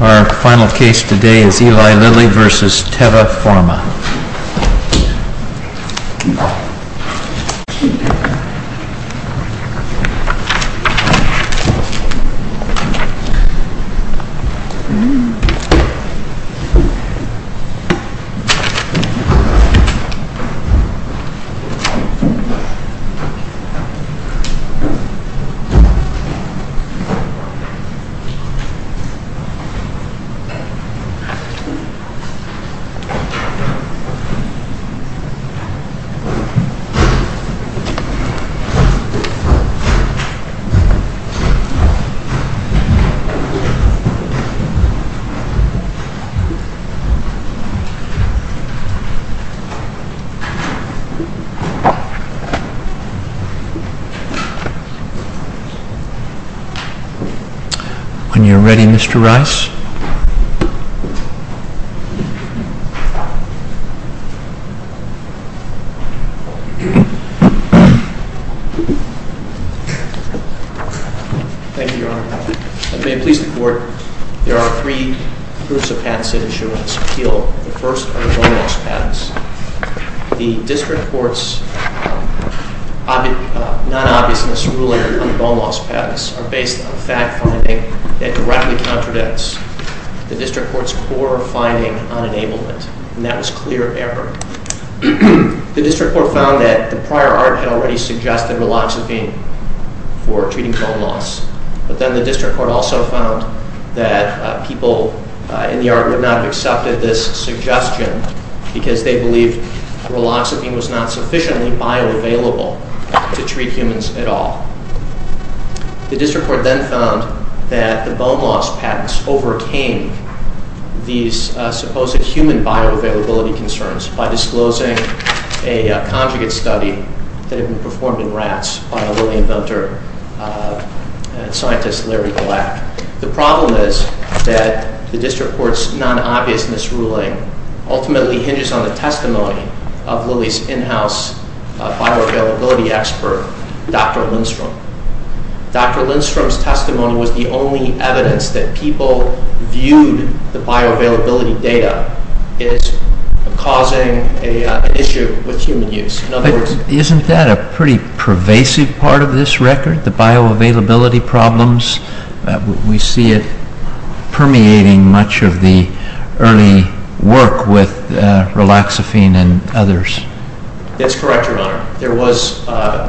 Our final case today is Eli Lilly v. Teva Pharma Eli Lilly v. Teva Pharma Thank you, Your Honor. May it please the Court, there are three groups of patents that issue in this appeal. The first are the bone loss patents. The District Court's non-obviousness ruling on the bone loss patents are based on fact-finding that directly contradicts the District Court's core finding on enablement, and that was clear error. The District Court found that the prior art had already suggested riloxepine for treating bone loss, but then the District Court also found that people in the art would not have accepted this suggestion because they believed riloxepine was not sufficiently bioavailable to treat humans at all. The District Court then found that the bone loss patents overcame these supposed human bioavailability concerns by disclosing a conjugate study that had been performed in rats by a Lilly inventor, scientist Larry Black. The problem is that the District Court's non-obviousness ruling ultimately hinges on the testimony of Lilly's in-house bioavailability expert, Dr. Lindstrom. Dr. Lindstrom's testimony was the only evidence that people viewed the bioavailability data as causing an issue with human use. Isn't that a pretty pervasive part of this record, the bioavailability problems? We see it permeating much of the early work with riloxepine and others. That's correct, Your Honor.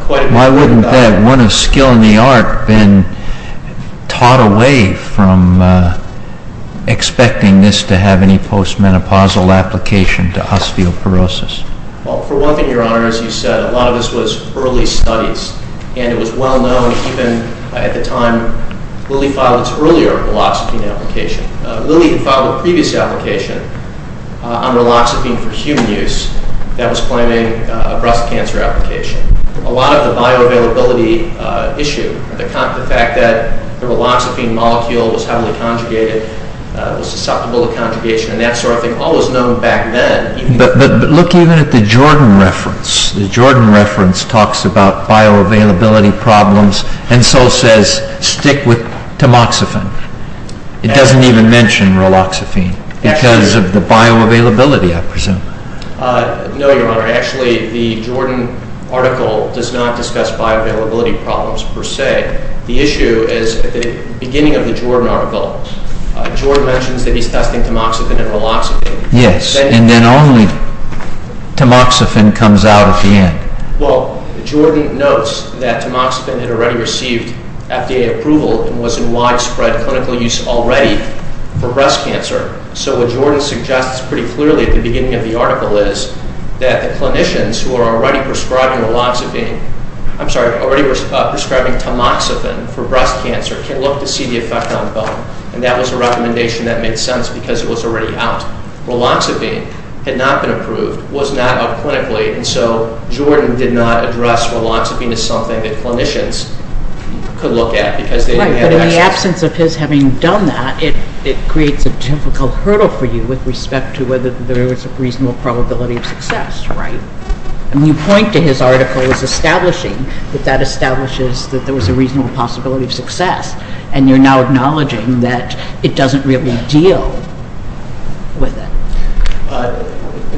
Why wouldn't that, one of skill in the art, been taught away from expecting this to have any postmenopausal application to osteoporosis? For one thing, Your Honor, as you said, a lot of this was early studies, and it was well known even at the time Lilly filed its earlier riloxepine application. Lilly had filed a previous application on riloxepine for human use that was claiming a breast cancer application. A lot of the bioavailability issue, the fact that the riloxepine molecule was heavily conjugated, was susceptible to conjugation and that sort of thing, all was known back then. But look even at the Jordan reference. The Jordan reference talks about bioavailability problems and so says, stick with tamoxifen. It doesn't even mention riloxepine because of the bioavailability, I presume. No, Your Honor. Actually, the Jordan article does not discuss bioavailability problems per se. The issue is, at the beginning of the Jordan article, Jordan mentions that he's testing tamoxifen and riloxepine. Yes, and then only tamoxifen comes out at the end. Well, Jordan notes that tamoxifen had already received FDA approval and was in widespread clinical use already for breast cancer. So what Jordan suggests pretty clearly at the beginning of the article is that the clinicians who are already prescribing tamoxifen for breast cancer can look to see the effect on bone. And that was a recommendation that made sense because it was already out. Riloxepine had not been approved, was not up clinically, and so Jordan did not address riloxepine as something that clinicians could look at because they didn't have access. Right, but in the absence of his having done that, it creates a difficult hurdle for you with respect to whether there was a reasonable probability of success, right? You point to his article as establishing that that establishes that there was a reasonable possibility of success, and you're now acknowledging that it doesn't really deal with it.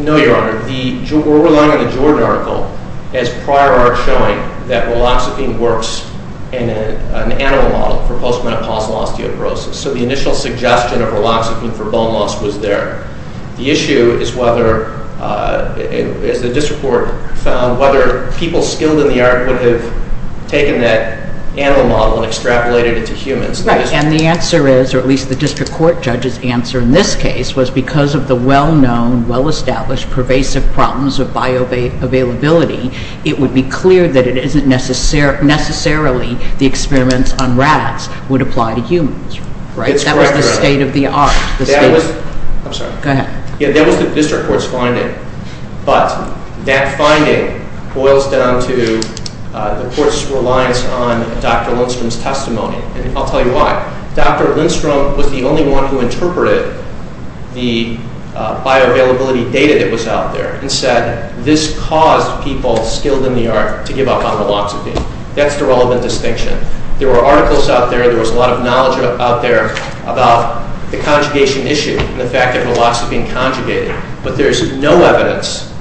No, Your Honor. We're relying on the Jordan article as prior art showing that riloxepine works in an animal model for postmenopausal osteoporosis. So the initial suggestion of riloxepine for bone loss was there. The issue is whether, as the district court found, whether people skilled in the art would have taken that animal model and extrapolated it to humans. Right, and the answer is, or at least the district court judge's answer in this case, was because of the well-known, well-established pervasive problems of bioavailability, it would be clear that it isn't necessarily the experiments on rats would apply to humans, right? That was the state of the art. I'm sorry. Go ahead. Yeah, that was the district court's finding. But that finding boils down to the court's reliance on Dr. Lindstrom's testimony, and I'll tell you why. Dr. Lindstrom was the only one who interpreted the bioavailability data that was out there and said, this caused people skilled in the art to give up on riloxepine. That's the relevant distinction. There were articles out there. There was a lot of knowledge out there about the conjugation issue and the fact that riloxepine conjugated, but there's no evidence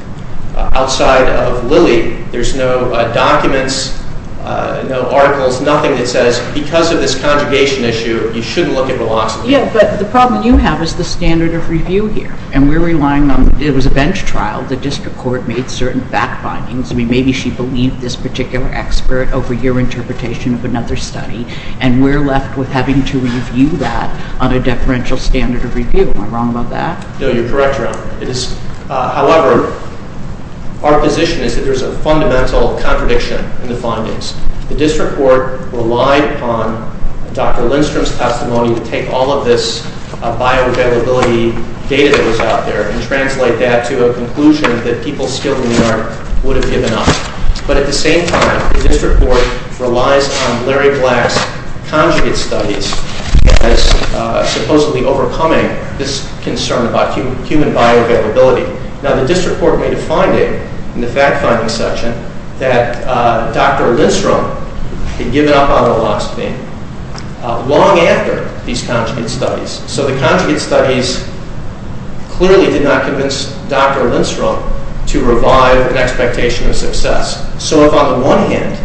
outside of Lilly. There's no documents, no articles, nothing that says, because of this conjugation issue, you shouldn't look at riloxepine. Yeah, but the problem you have is the standard of review here, and we're relying on it. It was a bench trial. The district court made certain back findings. I mean, maybe she believed this particular expert over your interpretation of another study, and we're left with having to review that on a deferential standard of review. Am I wrong about that? No, you're correct, Your Honor. However, our position is that there's a fundamental contradiction in the findings. The district court relied upon Dr. Lindstrom's testimony to take all of this bioavailability data that was out there and translate that to a conclusion that people skilled in the art would have given up. But at the same time, the district court relies on Larry Black's conjugate studies as supposedly overcoming this concern about human bioavailability. Now, the district court made a finding in the fact-finding section that Dr. Lindstrom had given up on riloxepine long after these conjugate studies. So the conjugate studies clearly did not convince Dr. Lindstrom to revive an expectation of success. So if, on the one hand,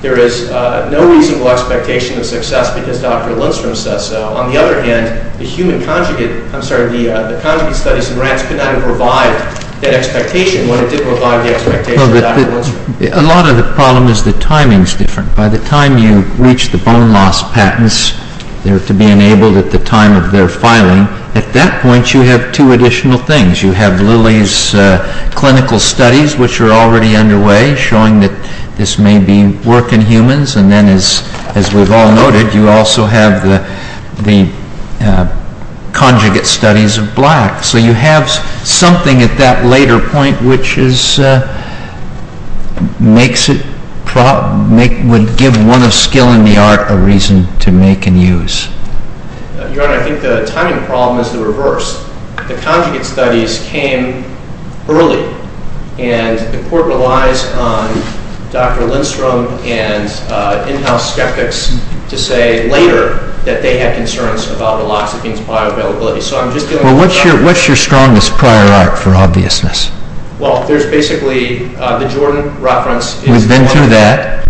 there is no reasonable expectation of success because Dr. Lindstrom says so, on the other hand, the conjugate studies in rats could not have revived that expectation when it did revive the expectation of Dr. Lindstrom. A lot of the problem is the timing is different. By the time you reach the bone loss patents, they're to be enabled at the time of their filing. At that point, you have two additional things. You have Lilly's clinical studies, which are already underway, showing that this may be work in humans. And then, as we've all noted, you also have the conjugate studies of blacks. So you have something at that later point which would give one of skill in the art a reason to make and use. Your Honor, I think the timing problem is the reverse. The conjugate studies came early, and the court relies on Dr. Lindstrom and in-house skeptics to say later that they had concerns about riloxepine's bioavailability. Well, what's your strongest prior art for obviousness? Well, there's basically the Jordan reference. We've been through that.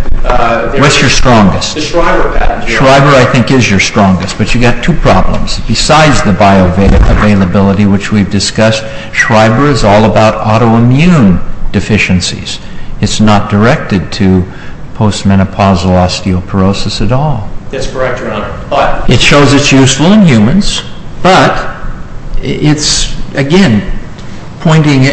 What's your strongest? The Schreiber patent. Schreiber, I think, is your strongest, but you've got two problems. Besides the bioavailability which we've discussed, Schreiber is all about autoimmune deficiencies. It's not directed to postmenopausal osteoporosis at all. That's correct, Your Honor. It shows it's useful in humans, but it's, again, pointing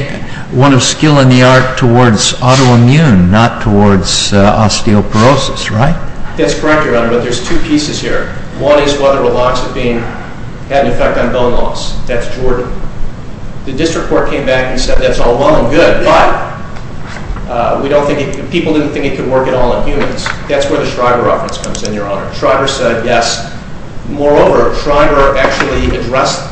one of skill in the art towards autoimmune, not towards osteoporosis, right? That's correct, Your Honor, but there's two pieces here. One is whether riloxepine had an effect on bone loss. That's Jordan. The district court came back and said that's all well and good, but people didn't think it could work at all in humans. That's where the Schreiber reference comes in, Your Honor. Schreiber said yes. Moreover, Schreiber actually addressed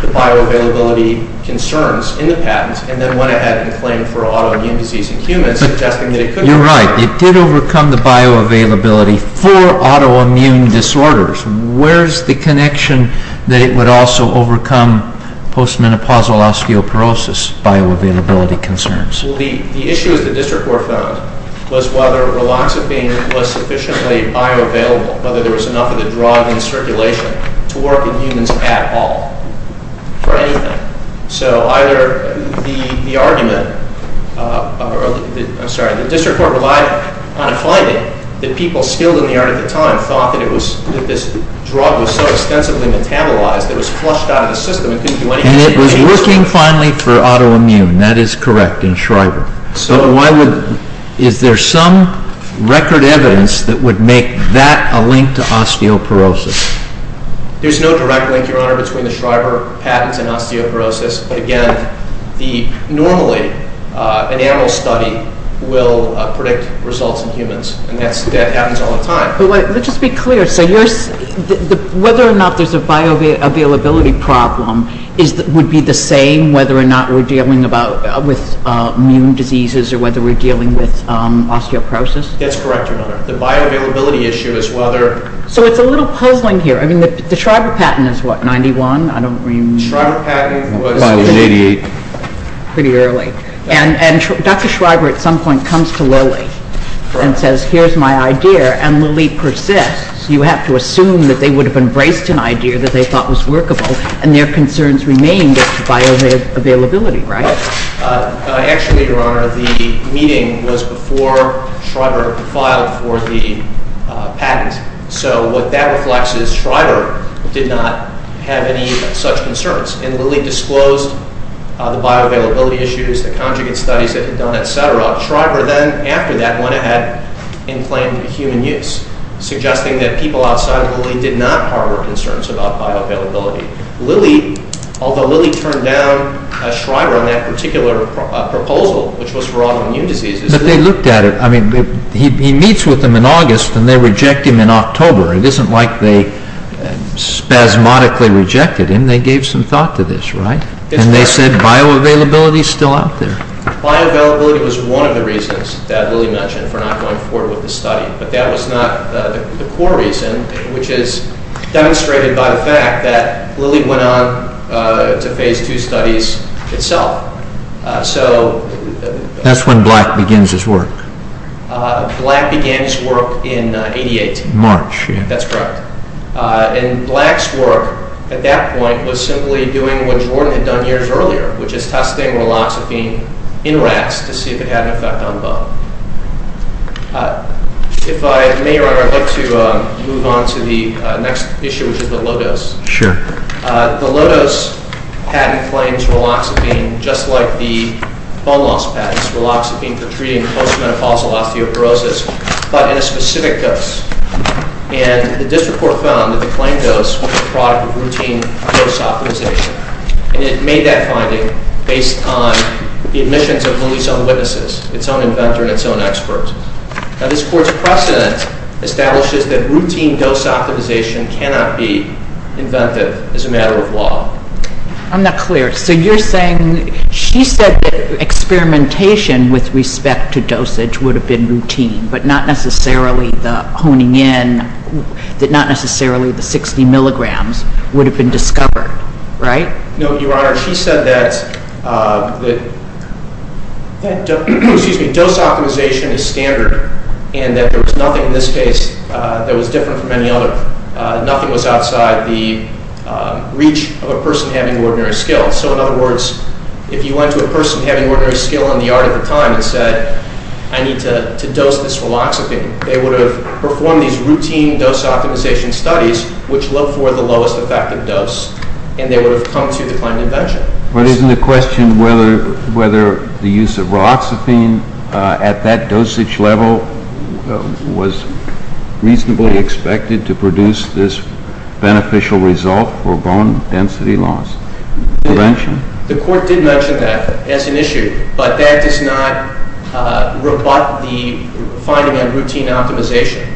the bioavailability concerns in the patent and then went ahead and claimed for autoimmune disease in humans, suggesting that it could work. You're right. It did overcome the bioavailability for autoimmune disorders. Where's the connection that it would also overcome postmenopausal osteoporosis bioavailability concerns? Well, the issue that the district court found was whether riloxepine was sufficiently bioavailable, whether there was enough of the drug in circulation to work in humans at all, for anything. So either the argument, I'm sorry, the district court relied on a finding that people skilled in the art at the time thought that this drug was so extensively metabolized it was flushed out of the system. And it was working finally for autoimmune. That is correct in Schreiber. Is there some record evidence that would make that a link to osteoporosis? There's no direct link, Your Honor, between the Schreiber patents and osteoporosis. Again, normally an animal study will predict results in humans, and that happens all the time. Let's just be clear. Whether or not there's a bioavailability problem would be the same whether or not we're dealing with immune diseases or whether we're dealing with osteoporosis? That's correct, Your Honor. The bioavailability issue is whether- So it's a little puzzling here. I mean, the Schreiber patent is what, 91? I don't remember. The Schreiber patent was 88. Pretty early. And Dr. Schreiber at some point comes to Lilly and says, here's my idea. And Lilly persists. You have to assume that they would have embraced an idea that they thought was workable, and their concerns remained at bioavailability, right? Actually, Your Honor, the meeting was before Schreiber filed for the patent. So what that reflects is Schreiber did not have any such concerns. And Lilly disclosed the bioavailability issues, the conjugate studies that he'd done, et cetera. Schreiber then, after that, went ahead and claimed human use, suggesting that people outside of Lilly did not harbor concerns about bioavailability. Lilly, although Lilly turned down Schreiber on that particular proposal, which was for autoimmune diseases- But they looked at it. I mean, he meets with them in August, and they reject him in October. It isn't like they spasmodically rejected him. And they gave some thought to this, right? And they said bioavailability is still out there. Bioavailability was one of the reasons that Lilly mentioned for not going forward with the study. But that was not the core reason, which is demonstrated by the fact that Lilly went on to phase two studies itself. So- That's when Black begins his work. Black began his work in 88. March, yeah. That's correct. And Black's work at that point was simply doing what Jordan had done years earlier, which is testing riloxepine in rats to see if it had an effect on bone. If I may, Your Honor, I'd like to move on to the next issue, which is the low-dose. Sure. The low-dose patent claims riloxepine just like the bone loss patents, riloxepine for treating post-menopausal osteoporosis, but in a specific dose. And the district court found that the claimed dose was a product of routine dose optimization. And it made that finding based on the admissions of Lilly's own witnesses, its own inventor, and its own experts. Now, this Court's precedent establishes that routine dose optimization cannot be inventive as a matter of law. I'm not clear. So you're saying she said that experimentation with respect to dosage would have been routine, but not necessarily the honing in, not necessarily the 60 milligrams would have been discovered, right? No, Your Honor. She said that dose optimization is standard and that there was nothing in this case that was different from any other. Nothing was outside the reach of a person having ordinary skill. So, in other words, if you went to a person having ordinary skill in the art at the time and said, I need to dose this riloxepine, they would have performed these routine dose optimization studies, which look for the lowest effective dose, and they would have come to the claim of invention. But isn't the question whether the use of riloxepine at that dosage level was reasonably expected to produce this beneficial result for bone density loss prevention? The Court did mention that as an issue, but that does not rebut the finding on routine optimization,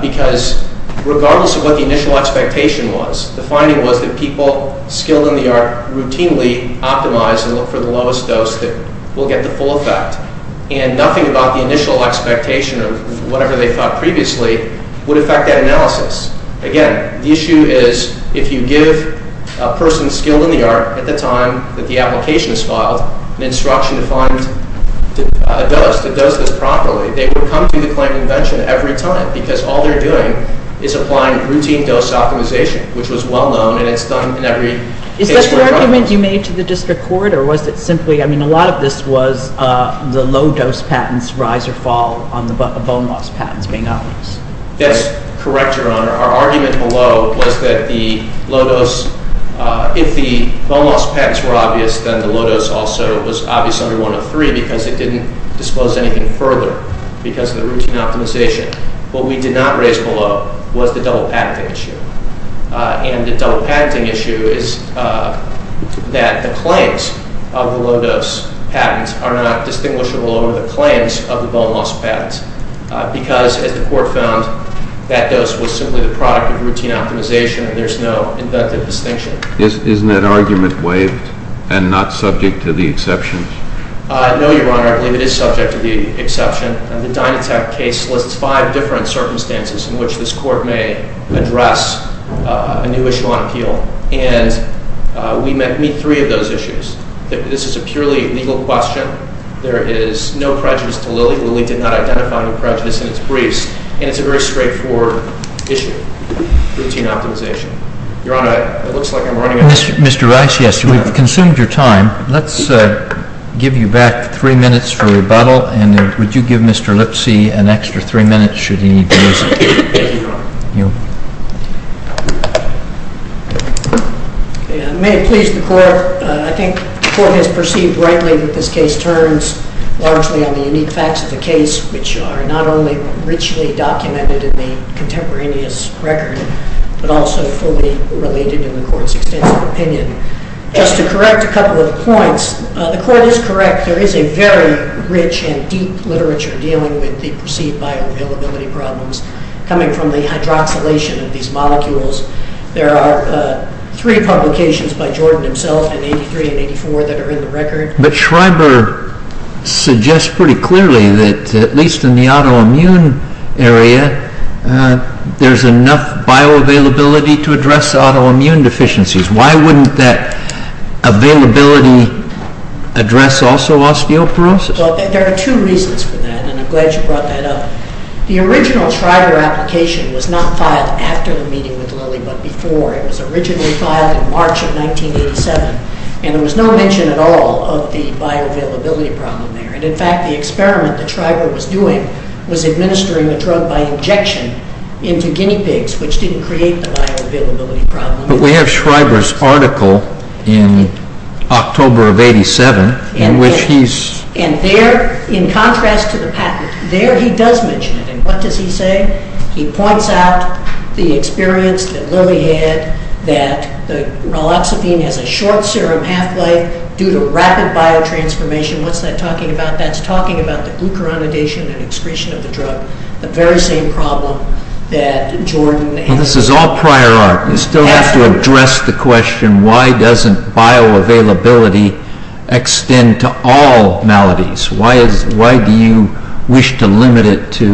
because regardless of what the initial expectation was, the finding was that people skilled in the art routinely optimize and look for the lowest dose that will get the full effect, and nothing about the initial expectation of whatever they thought previously would affect that analysis. Again, the issue is if you give a person skilled in the art at the time that the application is filed an instruction to find a dose that does this properly, they would come to the claim of invention every time, because all they're doing is applying routine dose optimization, which was well known, and it's done in every case where- Is that the argument you made to the district court, or was it simply- I mean, a lot of this was the low dose patents rise or fall on the bone loss patents being obvious. That's correct, Your Honor. Our argument below was that the low dose- if the bone loss patents were obvious, then the low dose also was obvious under 103, because it didn't disclose anything further because of the routine optimization. What we did not raise below was the double patenting issue, and the double patenting issue is that the claims of the low dose patents are not distinguishable over the claims of the bone loss patents, because, as the court found, that dose was simply the product of routine optimization. There's no inductive distinction. Isn't that argument waived and not subject to the exception? No, Your Honor. I believe it is subject to the exception. The Dynatech case lists five different circumstances in which this court may address a new issue on appeal, and we meet three of those issues. This is a purely legal question. There is no prejudice to Lilly. Lilly did not identify any prejudice in its briefs, and it's a very straightforward issue, routine optimization. Your Honor, it looks like I'm running out of time. Mr. Rice, yes, you have consumed your time. Let's give you back three minutes for rebuttal, and would you give Mr. Lipsy an extra three minutes should he lose it? Thank you, Your Honor. May it please the court, I think the court has perceived rightly that this case turns largely on the unique facts of the case, which are not only richly documented in the contemporaneous record but also fully related in the court's extensive opinion. Just to correct a couple of points, the court is correct. There is a very rich and deep literature dealing with the perceived bioavailability problems coming from the hydroxylation of these molecules. There are three publications by Jordan himself in 1983 and 1984 that are in the record. But Schreiber suggests pretty clearly that at least in the autoimmune area, there's enough bioavailability to address autoimmune deficiencies. Why wouldn't that availability address also osteoporosis? Well, there are two reasons for that, and I'm glad you brought that up. The original Schreiber application was not filed after the meeting with Lilly but before. It was originally filed in March of 1987, and there was no mention at all of the bioavailability problem there. And in fact, the experiment that Schreiber was doing was administering a drug by injection into guinea pigs, which didn't create the bioavailability problem. But we have Schreiber's article in October of 1987 in which he's... And there, in contrast to the patent, there he does mention it. And what does he say? He points out the experience that Lilly had that naloxifene has a short serum half-life due to rapid biotransformation. What's that talking about? That's talking about the glucuronidation and excretion of the drug, the very same problem that Jordan... Well, this is all prior art. You still have to address the question, why doesn't bioavailability extend to all maladies? Why do you wish to limit it to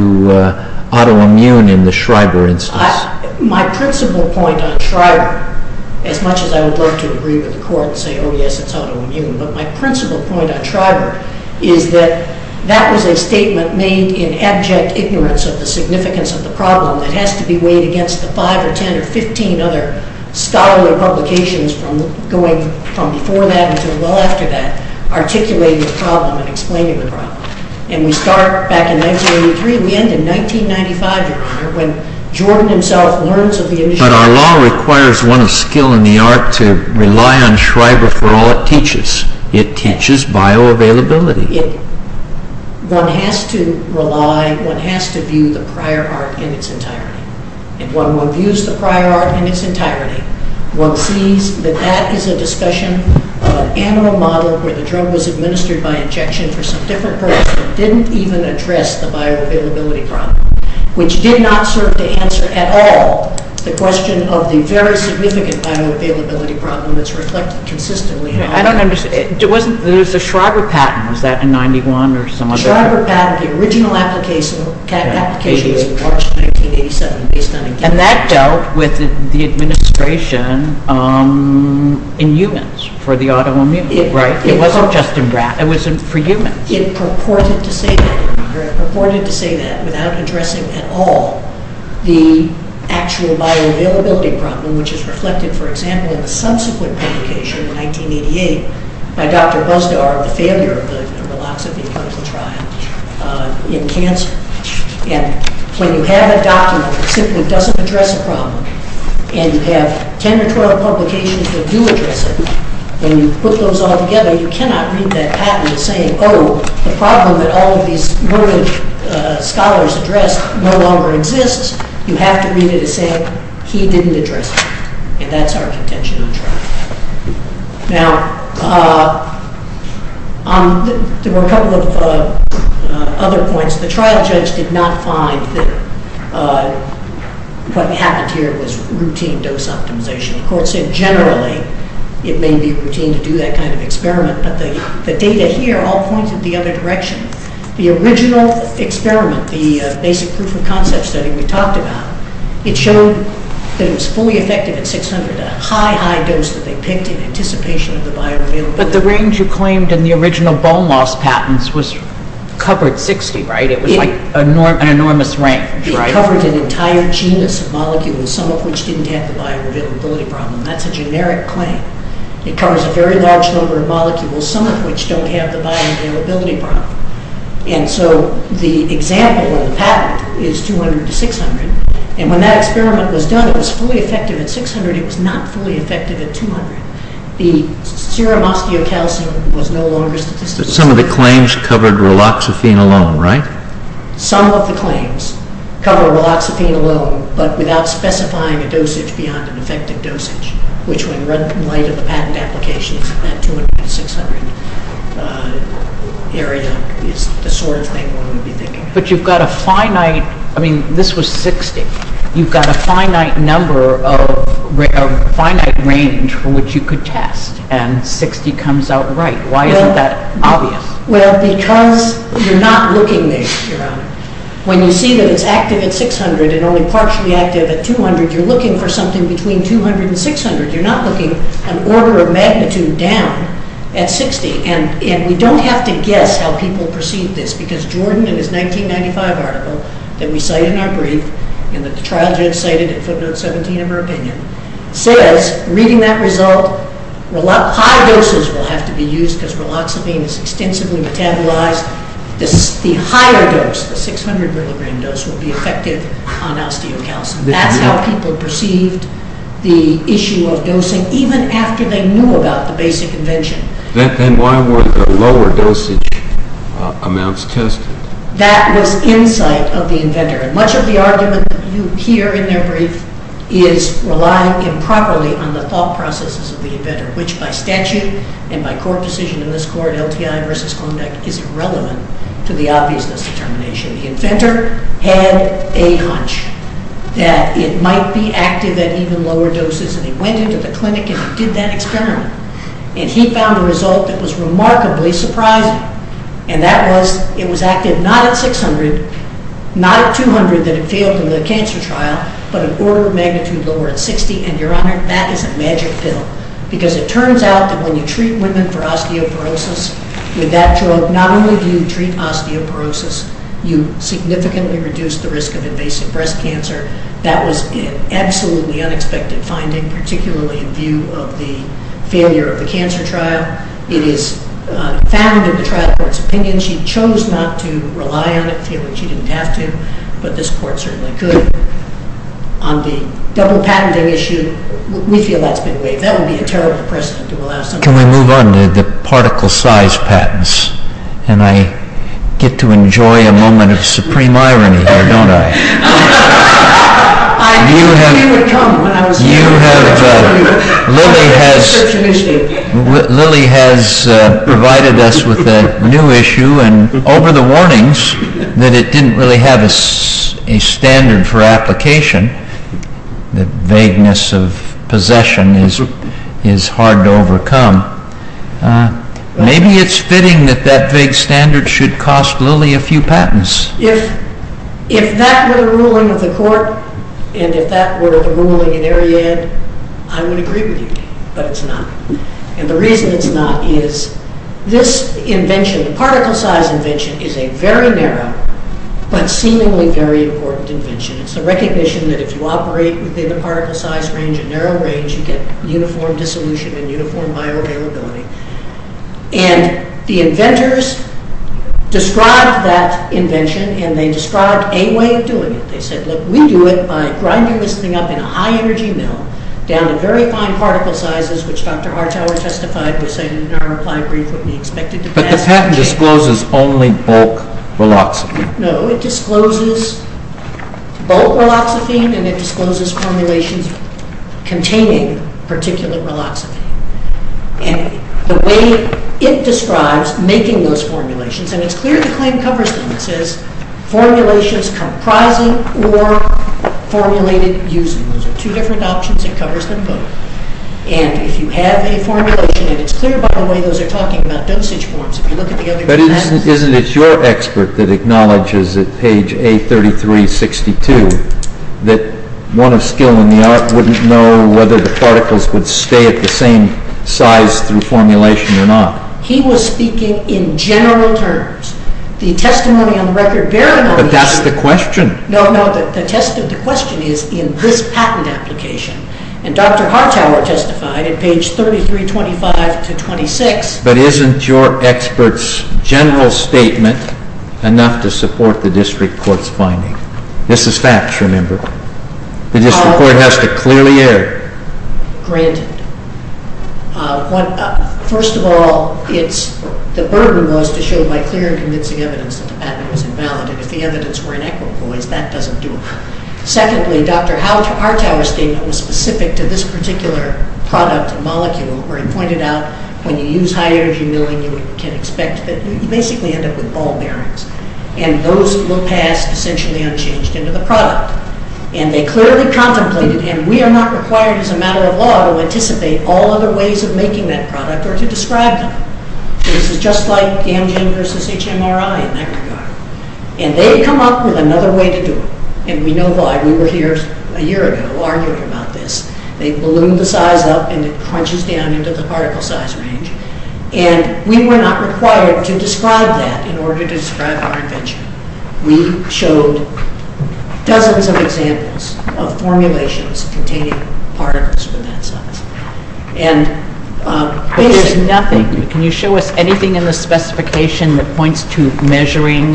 autoimmune in the Schreiber instance? My principal point on Schreiber, as much as I would love to agree with the court and say, oh, yes, it's autoimmune, but my principal point on Schreiber is that that was a statement made in abject ignorance of the significance of the problem that has to be weighed against the 5 or 10 or 15 other scholarly publications from before that until well after that articulating the problem and explaining the problem. And we start back in 1983 and we end in 1995, Your Honor, when Jordan himself learns of the... But our law requires one of skill in the art to rely on Schreiber for all it teaches. It teaches bioavailability. One has to rely, one has to view the prior art in its entirety. And when one views the prior art in its entirety, one sees that that is a discussion of an animal model where the drug was administered by injection for some different person that didn't even address the bioavailability problem, which did not serve to answer at all the question of the very significant bioavailability problem that's reflected consistently... I don't understand. There was a Schreiber patent. Was that in 1991 or some other... Schreiber patent, the original application was in March 1987 based on a... And that dealt with the administration in humans for the autoimmune, right? It wasn't just for humans. It purported to say that, Your Honor. It purported to say that without addressing at all the actual bioavailability problem, which is reflected, for example, in the subsequent publication in 1988 by Dr. Busdar of the failure of the relapse of the clinical trial in cancer. And when you have a document that simply doesn't address a problem and you have 10 or 12 publications that do address it, when you put those all together, you cannot read that patent as saying, Oh, the problem that all of these learned scholars addressed no longer exists. You have to read it as saying, He didn't address it. And that's our contention on trial. Now, there were a couple of other points. The trial judge did not find that what happened here was routine dose optimization. The court said generally it may be routine to do that kind of experiment, but the data here all pointed the other direction. The original experiment, the basic proof of concept study we talked about, it showed that it was fully effective at 600, a high, high dose that they picked in anticipation of the bioavailability. But the range you claimed in the original bone loss patents was covered 60, right? It was like an enormous range, right? It covered an entire genus of molecules, some of which didn't have the bioavailability problem. That's a generic claim. It covers a very large number of molecules, some of which don't have the bioavailability problem. And so the example in the patent is 200 to 600. And when that experiment was done, it was fully effective at 600. It was not fully effective at 200. The serum osteocalcium was no longer statistically effective. But some of the claims covered raloxifene alone, right? Some of the claims cover raloxifene alone, but without specifying a dosage beyond an effective dosage, which when read in light of the patent applications at 200 to 600 area is the sort of thing one would be thinking of. But you've got a finite, I mean, this was 60. You've got a finite number of, a finite range from which you could test, and 60 comes out right. Why isn't that obvious? Well, because you're not looking at the serum. When you see that it's active at 600 and only partially active at 200, you're looking for something between 200 and 600. You're not looking an order of magnitude down at 60. And we don't have to guess how people perceive this because Jordan in his 1995 article that we cite in our brief and that the trial judge cited in footnote 17 of her opinion says reading that result, high doses will have to be used because raloxifene is extensively metabolized. The higher dose, the 600 milligram dose, will be effective on osteocalcium. That's how people perceived the issue of dosing even after they knew about the basic invention. Then why were the lower dosage amounts tested? That was insight of the inventor. And much of the argument you hear in their brief is relying improperly on the thought processes of the inventor, which by statute and by court decision in this court, LTI versus Klondike, is irrelevant to the obviousness determination. The inventor had a hunch that it might be active at even lower doses and he went into the clinic and he did that experiment. And he found a result that was remarkably surprising. And that was it was active not at 600, not at 200 that it failed in the cancer trial, but an order of magnitude lower at 60. And, Your Honor, that is a magic pill because it turns out that when you treat women for osteoporosis with that drug, not only do you treat osteoporosis, you significantly reduce the risk of invasive breast cancer. That was an absolutely unexpected finding, particularly in view of the failure of the cancer trial. It is found in the trial court's opinion. She chose not to rely on it, feeling she didn't have to, but this court certainly could. On the double patenting issue, we feel that's been waived. That would be a terrible precedent to allow somebody... Can we move on to the particle size patents? And I get to enjoy a moment of supreme irony here, don't I? I knew it would come when I was here. Lily has provided us with a new issue and over the warnings that it didn't really have a standard for application, the vagueness of possession is hard to overcome. Maybe it's fitting that that vague standard should cost Lily a few patents. If that were the ruling of the court and if that were the ruling at ARIAD, I would agree with you, but it's not. And the reason it's not is this invention, the particle size invention, is a very narrow but seemingly very important invention. It's a recognition that if you operate within a particle size range, a narrow range, you get uniform dissolution and uniform bioavailability. And the inventors described that invention and they described a way of doing it. They said, look, we do it by grinding this thing up in a high energy mill down to very fine particle sizes, which Dr. Hartauer testified was, in our reply brief, what we expected to pass... But the patent discloses only bulk riloxamine. No, it discloses bulk riloxamine and it discloses formulations containing particulate riloxamine. And the way it describes making those formulations, and it's clear the claim covers them. It says, formulations comprising or formulated using. Those are two different options. It covers them both. And if you have a formulation, and it's clear, by the way, those are talking about dosage forms. But isn't it your expert that acknowledges at page A3362 that one of skill in the art wouldn't know whether the particles would stay at the same size through formulation or not? He was speaking in general terms. The testimony on the record bearing on... But that's the question. No, no, the question is in this patent application. And Dr. Hartauer testified at page 3325-26... But isn't your expert's general statement enough to support the district court's finding? This is facts, remember. The district court has to clearly air. Granted. First of all, the burden was to show by clear and convincing evidence that the patent was invalid. And if the evidence were inequitable, that doesn't do it. Secondly, Dr. Hartauer's statement was specific to this particular product and molecule where he pointed out when you use high-energy milling, you can expect that you basically end up with ball bearings. And those look past essentially unchanged into the product. And they clearly contemplated, and we are not required as a matter of law to anticipate all other ways of making that product or to describe them. This is just like GamGen versus HMRI in that regard. And they come up with another way to do it. And we know why. We were here a year ago arguing about this. They ballooned the size up, and it crunches down into the particle size range. And we were not required to describe that in order to describe our invention. We showed dozens of examples of formulations containing particles of that size. But there's nothing. Can you show us anything in the specification that points to measuring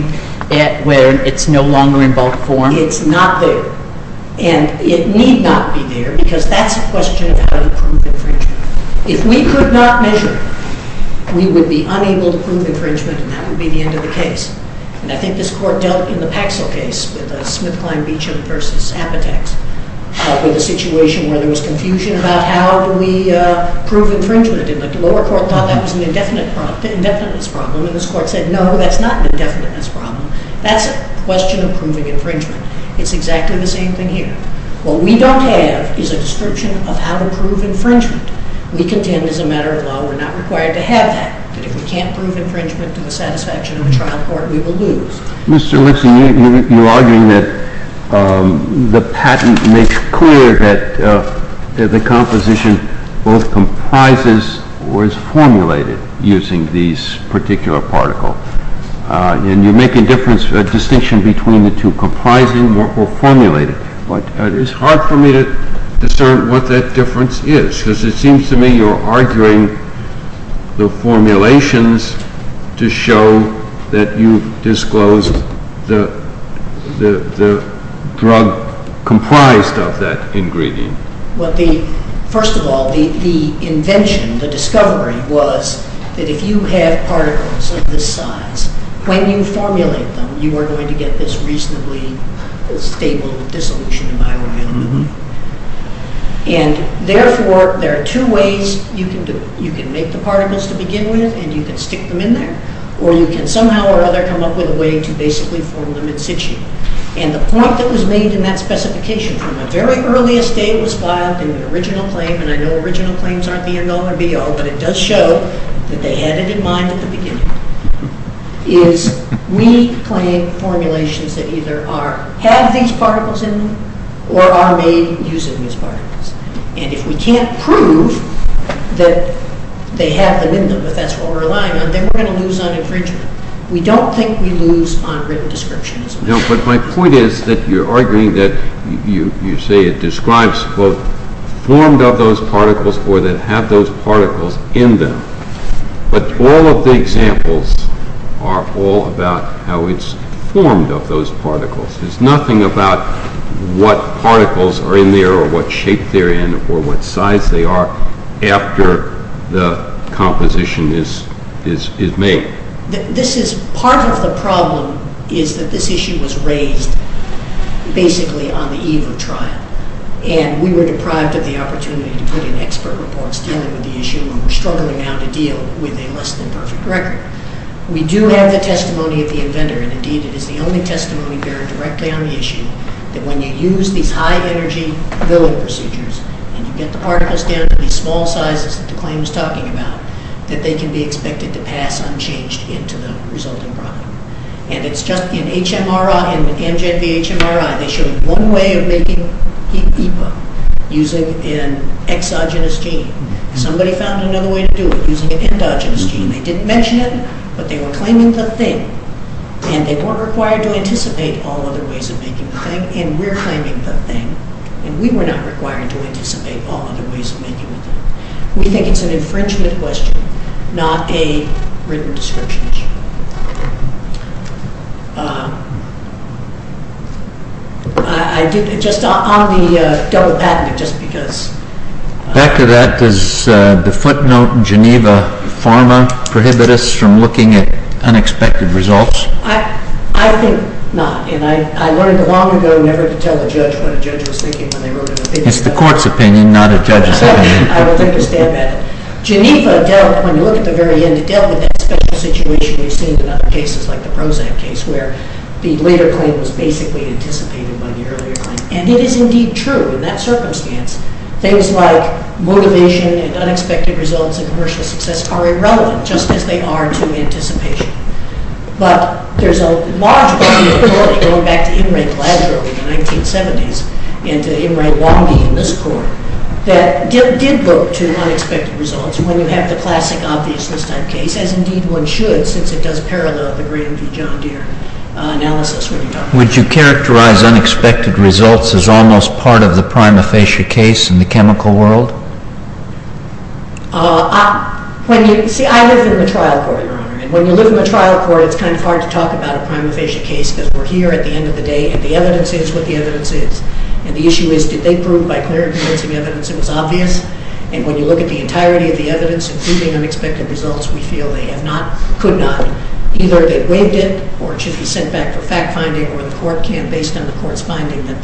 it when it's no longer in bulk form? It's not there. And it need not be there because that's a question of how to prove infringement. If we could not measure, we would be unable to prove infringement, and that would be the end of the case. And I think this court dealt in the Paxil case with a SmithKline-Beacham versus Apotex with a situation where there was confusion about how do we prove infringement. And the lower court thought that was an indefiniteness problem. And this court said, no, that's not an indefiniteness problem. That's a question of proving infringement. It's exactly the same thing here. What we don't have is a description of how to prove infringement. We contend, as a matter of law, we're not required to have that, that if we can't prove infringement to the satisfaction of the trial court, we will lose. Mr. Lipson, you're arguing that the patent makes clear that the composition both comprises or is formulated using this particular particle. And you make a distinction between the two, comprising or formulated. But it's hard for me to discern what that difference is, because it seems to me you're arguing the formulations to show that you've disclosed the drug comprised of that ingredient. First of all, the invention, the discovery, was that if you have particles of this size, when you formulate them, you are going to get this reasonably stable dissolution environment. And therefore, there are two ways you can do it. You can make the particles to begin with, and you can stick them in there. Or you can somehow or other come up with a way to basically form them in situ. And the point that was made in that specification from the very earliest day it was filed, in the original claim, and I know original claims aren't the end all or be all, but it does show that they had it in mind at the beginning, is we claim formulations that either have these particles in them or are made using these particles. And if we can't prove that they have them in them, if that's what we're relying on, then we're going to lose on infringement. We don't think we lose on written description as well. No, but my point is that you're arguing that you say it describes both formed of those particles or that have those particles in them. But all of the examples are all about how it's formed of those particles. It's nothing about what particles are in there or what shape they're in or what size they are after the composition is made. This is part of the problem, is that this issue was raised basically on the eve of trial. And we were deprived of the opportunity to put in expert reports dealing with the issue, and we're struggling now to deal with a less than perfect record. We do have the testimony of the inventor, and indeed it is the only testimony there directly on the issue, that when you use these high-energy billing procedures and you get the particles down to these small sizes that the claim is talking about, that they can be expected to pass unchanged into the resulting product. And it's just in HMRI, in the Amgen v. HMRI, they showed one way of making HEPA, using an exogenous gene. Somebody found another way to do it, using an endogenous gene. They didn't mention it, but they were claiming the thing. And they weren't required to anticipate all other ways of making the thing, and we're claiming the thing, and we were not required to anticipate all other ways of making the thing. We think it's an infringement question, not a written description issue. Just on the double patent, just because... Back to that, does the footnote Geneva Pharma prohibit us from looking at unexpected results? I think not, and I learned long ago never to tell a judge what a judge was thinking when they wrote an opinion. It's the court's opinion, not a judge's opinion. I understand that. Geneva dealt, when you look at the very end, it dealt with that special situation we've seen in other cases, like the Prozac case, where the later claim was basically anticipated by the earlier claim. And it is indeed true, in that circumstance, things like motivation and unexpected results and commercial success are irrelevant, just as they are to anticipation. But there's a large body of authority, going back to Imre Gladrow in the 1970s and to Imre Wangi in this court, that did look to unexpected results when you have the classic obviousness type case, as indeed one should, since it does parallel the Grand v. John Deere analysis. Would you characterize unexpected results as almost part of the prima facie case in the chemical world? See, I live in the trial court, Your Honor, and when you live in the trial court, it's kind of hard to talk about a prima facie case because we're here at the end of the day, and the evidence is what the evidence is. And the issue is, did they prove by clear and convincing evidence it was obvious? And when you look at the entirety of the evidence, including unexpected results, we feel they have not, could not, either they waived it, or it should be sent back for fact-finding, or the court can, based on the court's finding, that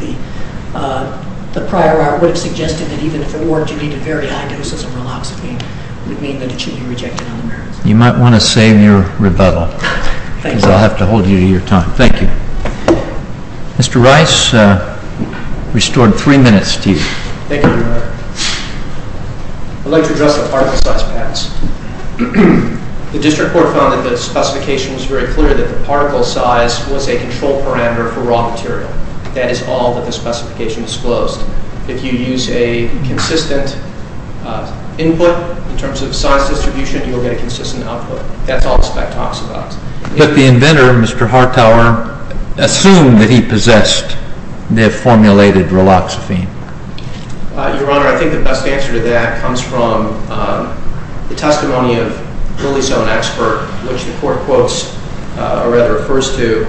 the prior art would have suggested that even if it worked, you needed very high doses of meloxifene, would mean that it should be rejected on the merits. You might want to save your rebuttal, because I'll have to hold you to your time. Thank you. Mr. Rice, we restored three minutes to you. Thank you, Your Honor. I'd like to address the particle size patterns. The district court found that the specification was very clear that the particle size was a control parameter for raw material. That is all that the specification disclosed. If you use a consistent input, in terms of size distribution, you will get a consistent output. That's all the spec talks about. But the inventor, Mr. Hartauer, assumed that he possessed the formulated meloxifene. Your Honor, I think the best answer to that comes from the testimony of Lilly's own expert, which the court quotes, or rather refers to,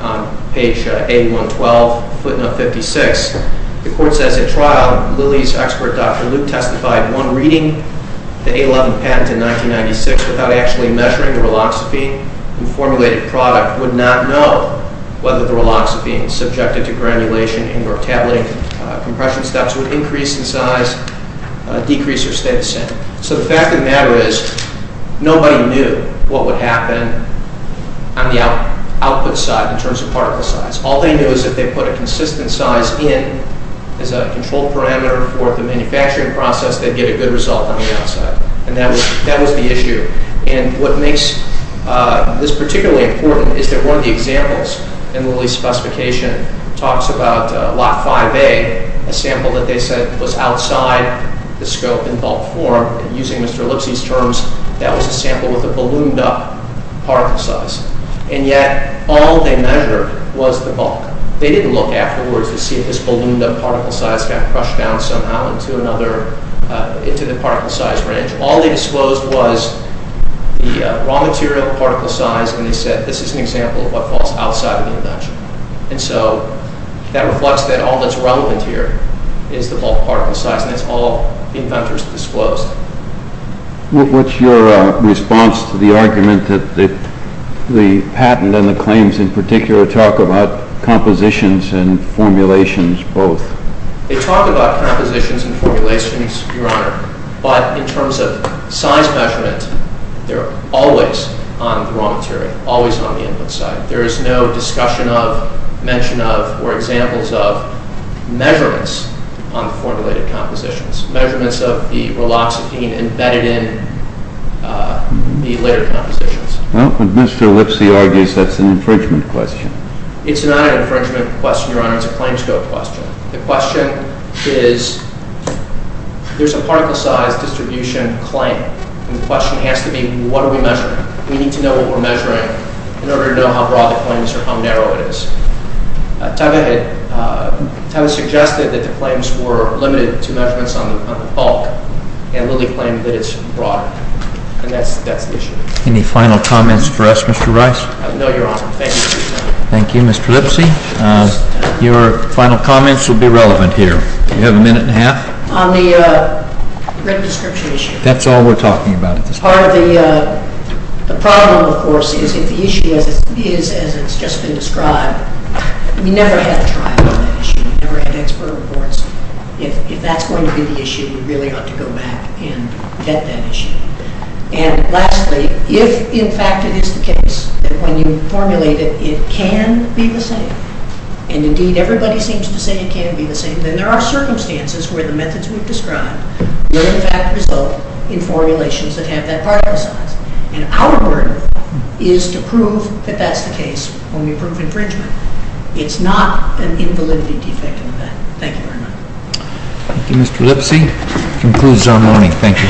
on page 8112, footnote 56. The court says, In trial, Lilly's expert, Dr. Luke, testified one reading the A11 patent in 1996 without actually measuring the meloxifene. The formulated product would not know whether the meloxifene, subjected to granulation or tabulating compression steps, would increase in size, decrease, or stay the same. So the fact of the matter is, nobody knew what would happen on the output side, in terms of particle size. All they knew is that if they put a consistent size in as a control parameter for the manufacturing process, they'd get a good result on the outside. And that was the issue. And what makes this particularly important is that one of the examples in Lilly's specification talks about lot 5A, a sample that they said was outside the scope in bulk form, and using Mr. Lipsy's terms, that was a sample with a ballooned-up particle size. And yet, all they measured was the bulk. They didn't look afterwards to see if this ballooned-up particle size got crushed down somehow into the particle size range. All they disclosed was the raw material particle size, and they said, this is an example of what falls outside of the invention. And so that reflects that all that's relevant here is the bulk particle size, and it's all the inventors disclosed. What's your response to the argument that the patent and the claims in particular talk about compositions and formulations both? They talk about compositions and formulations, Your Honor, but in terms of size measurement, they're always on the raw material, always on the input side. There is no discussion of, mention of, or examples of measurements on formulated compositions, measurements of the Riloxidine embedded in the later compositions. Well, Mr. Lipsy argues that's an infringement question. It's not an infringement question, Your Honor. It's a claims-code question. The question is, there's a particle-size distribution claim, and the question has to be, what are we measuring? We need to know what we're measuring in order to know how broad the claims are, how narrow it is. Tavis suggested that the claims were limited to measurements on the bulk, and Lilly claimed that it's broad, and that's the issue. Any final comments for us, Mr. Rice? No, Your Honor. Thank you. Thank you, Mr. Lipsy. Your final comments will be relevant here. You have a minute and a half? On the written description issue. That's all we're talking about at this point. Part of the problem, of course, is if the issue is as it's just been described, we never had a trial on that issue. We never had expert reports. If that's going to be the issue, we really ought to go back and get that issue. And lastly, if in fact it is the case that when you formulate it, it can be the same, and indeed everybody seems to say it can be the same, then there are circumstances where the methods we've described will in fact result in formulations that have that part of the science. And our burden is to prove that that's the case when we prove infringement. It's not an invalidity defect in that. Thank you very much. Thank you, Mr. Lipsy. That concludes our morning. Thank you, Your Honor. Thank you, Mr. Rice. The Honorable Court has adjourned until tomorrow morning at 10 o'clock. Thank you.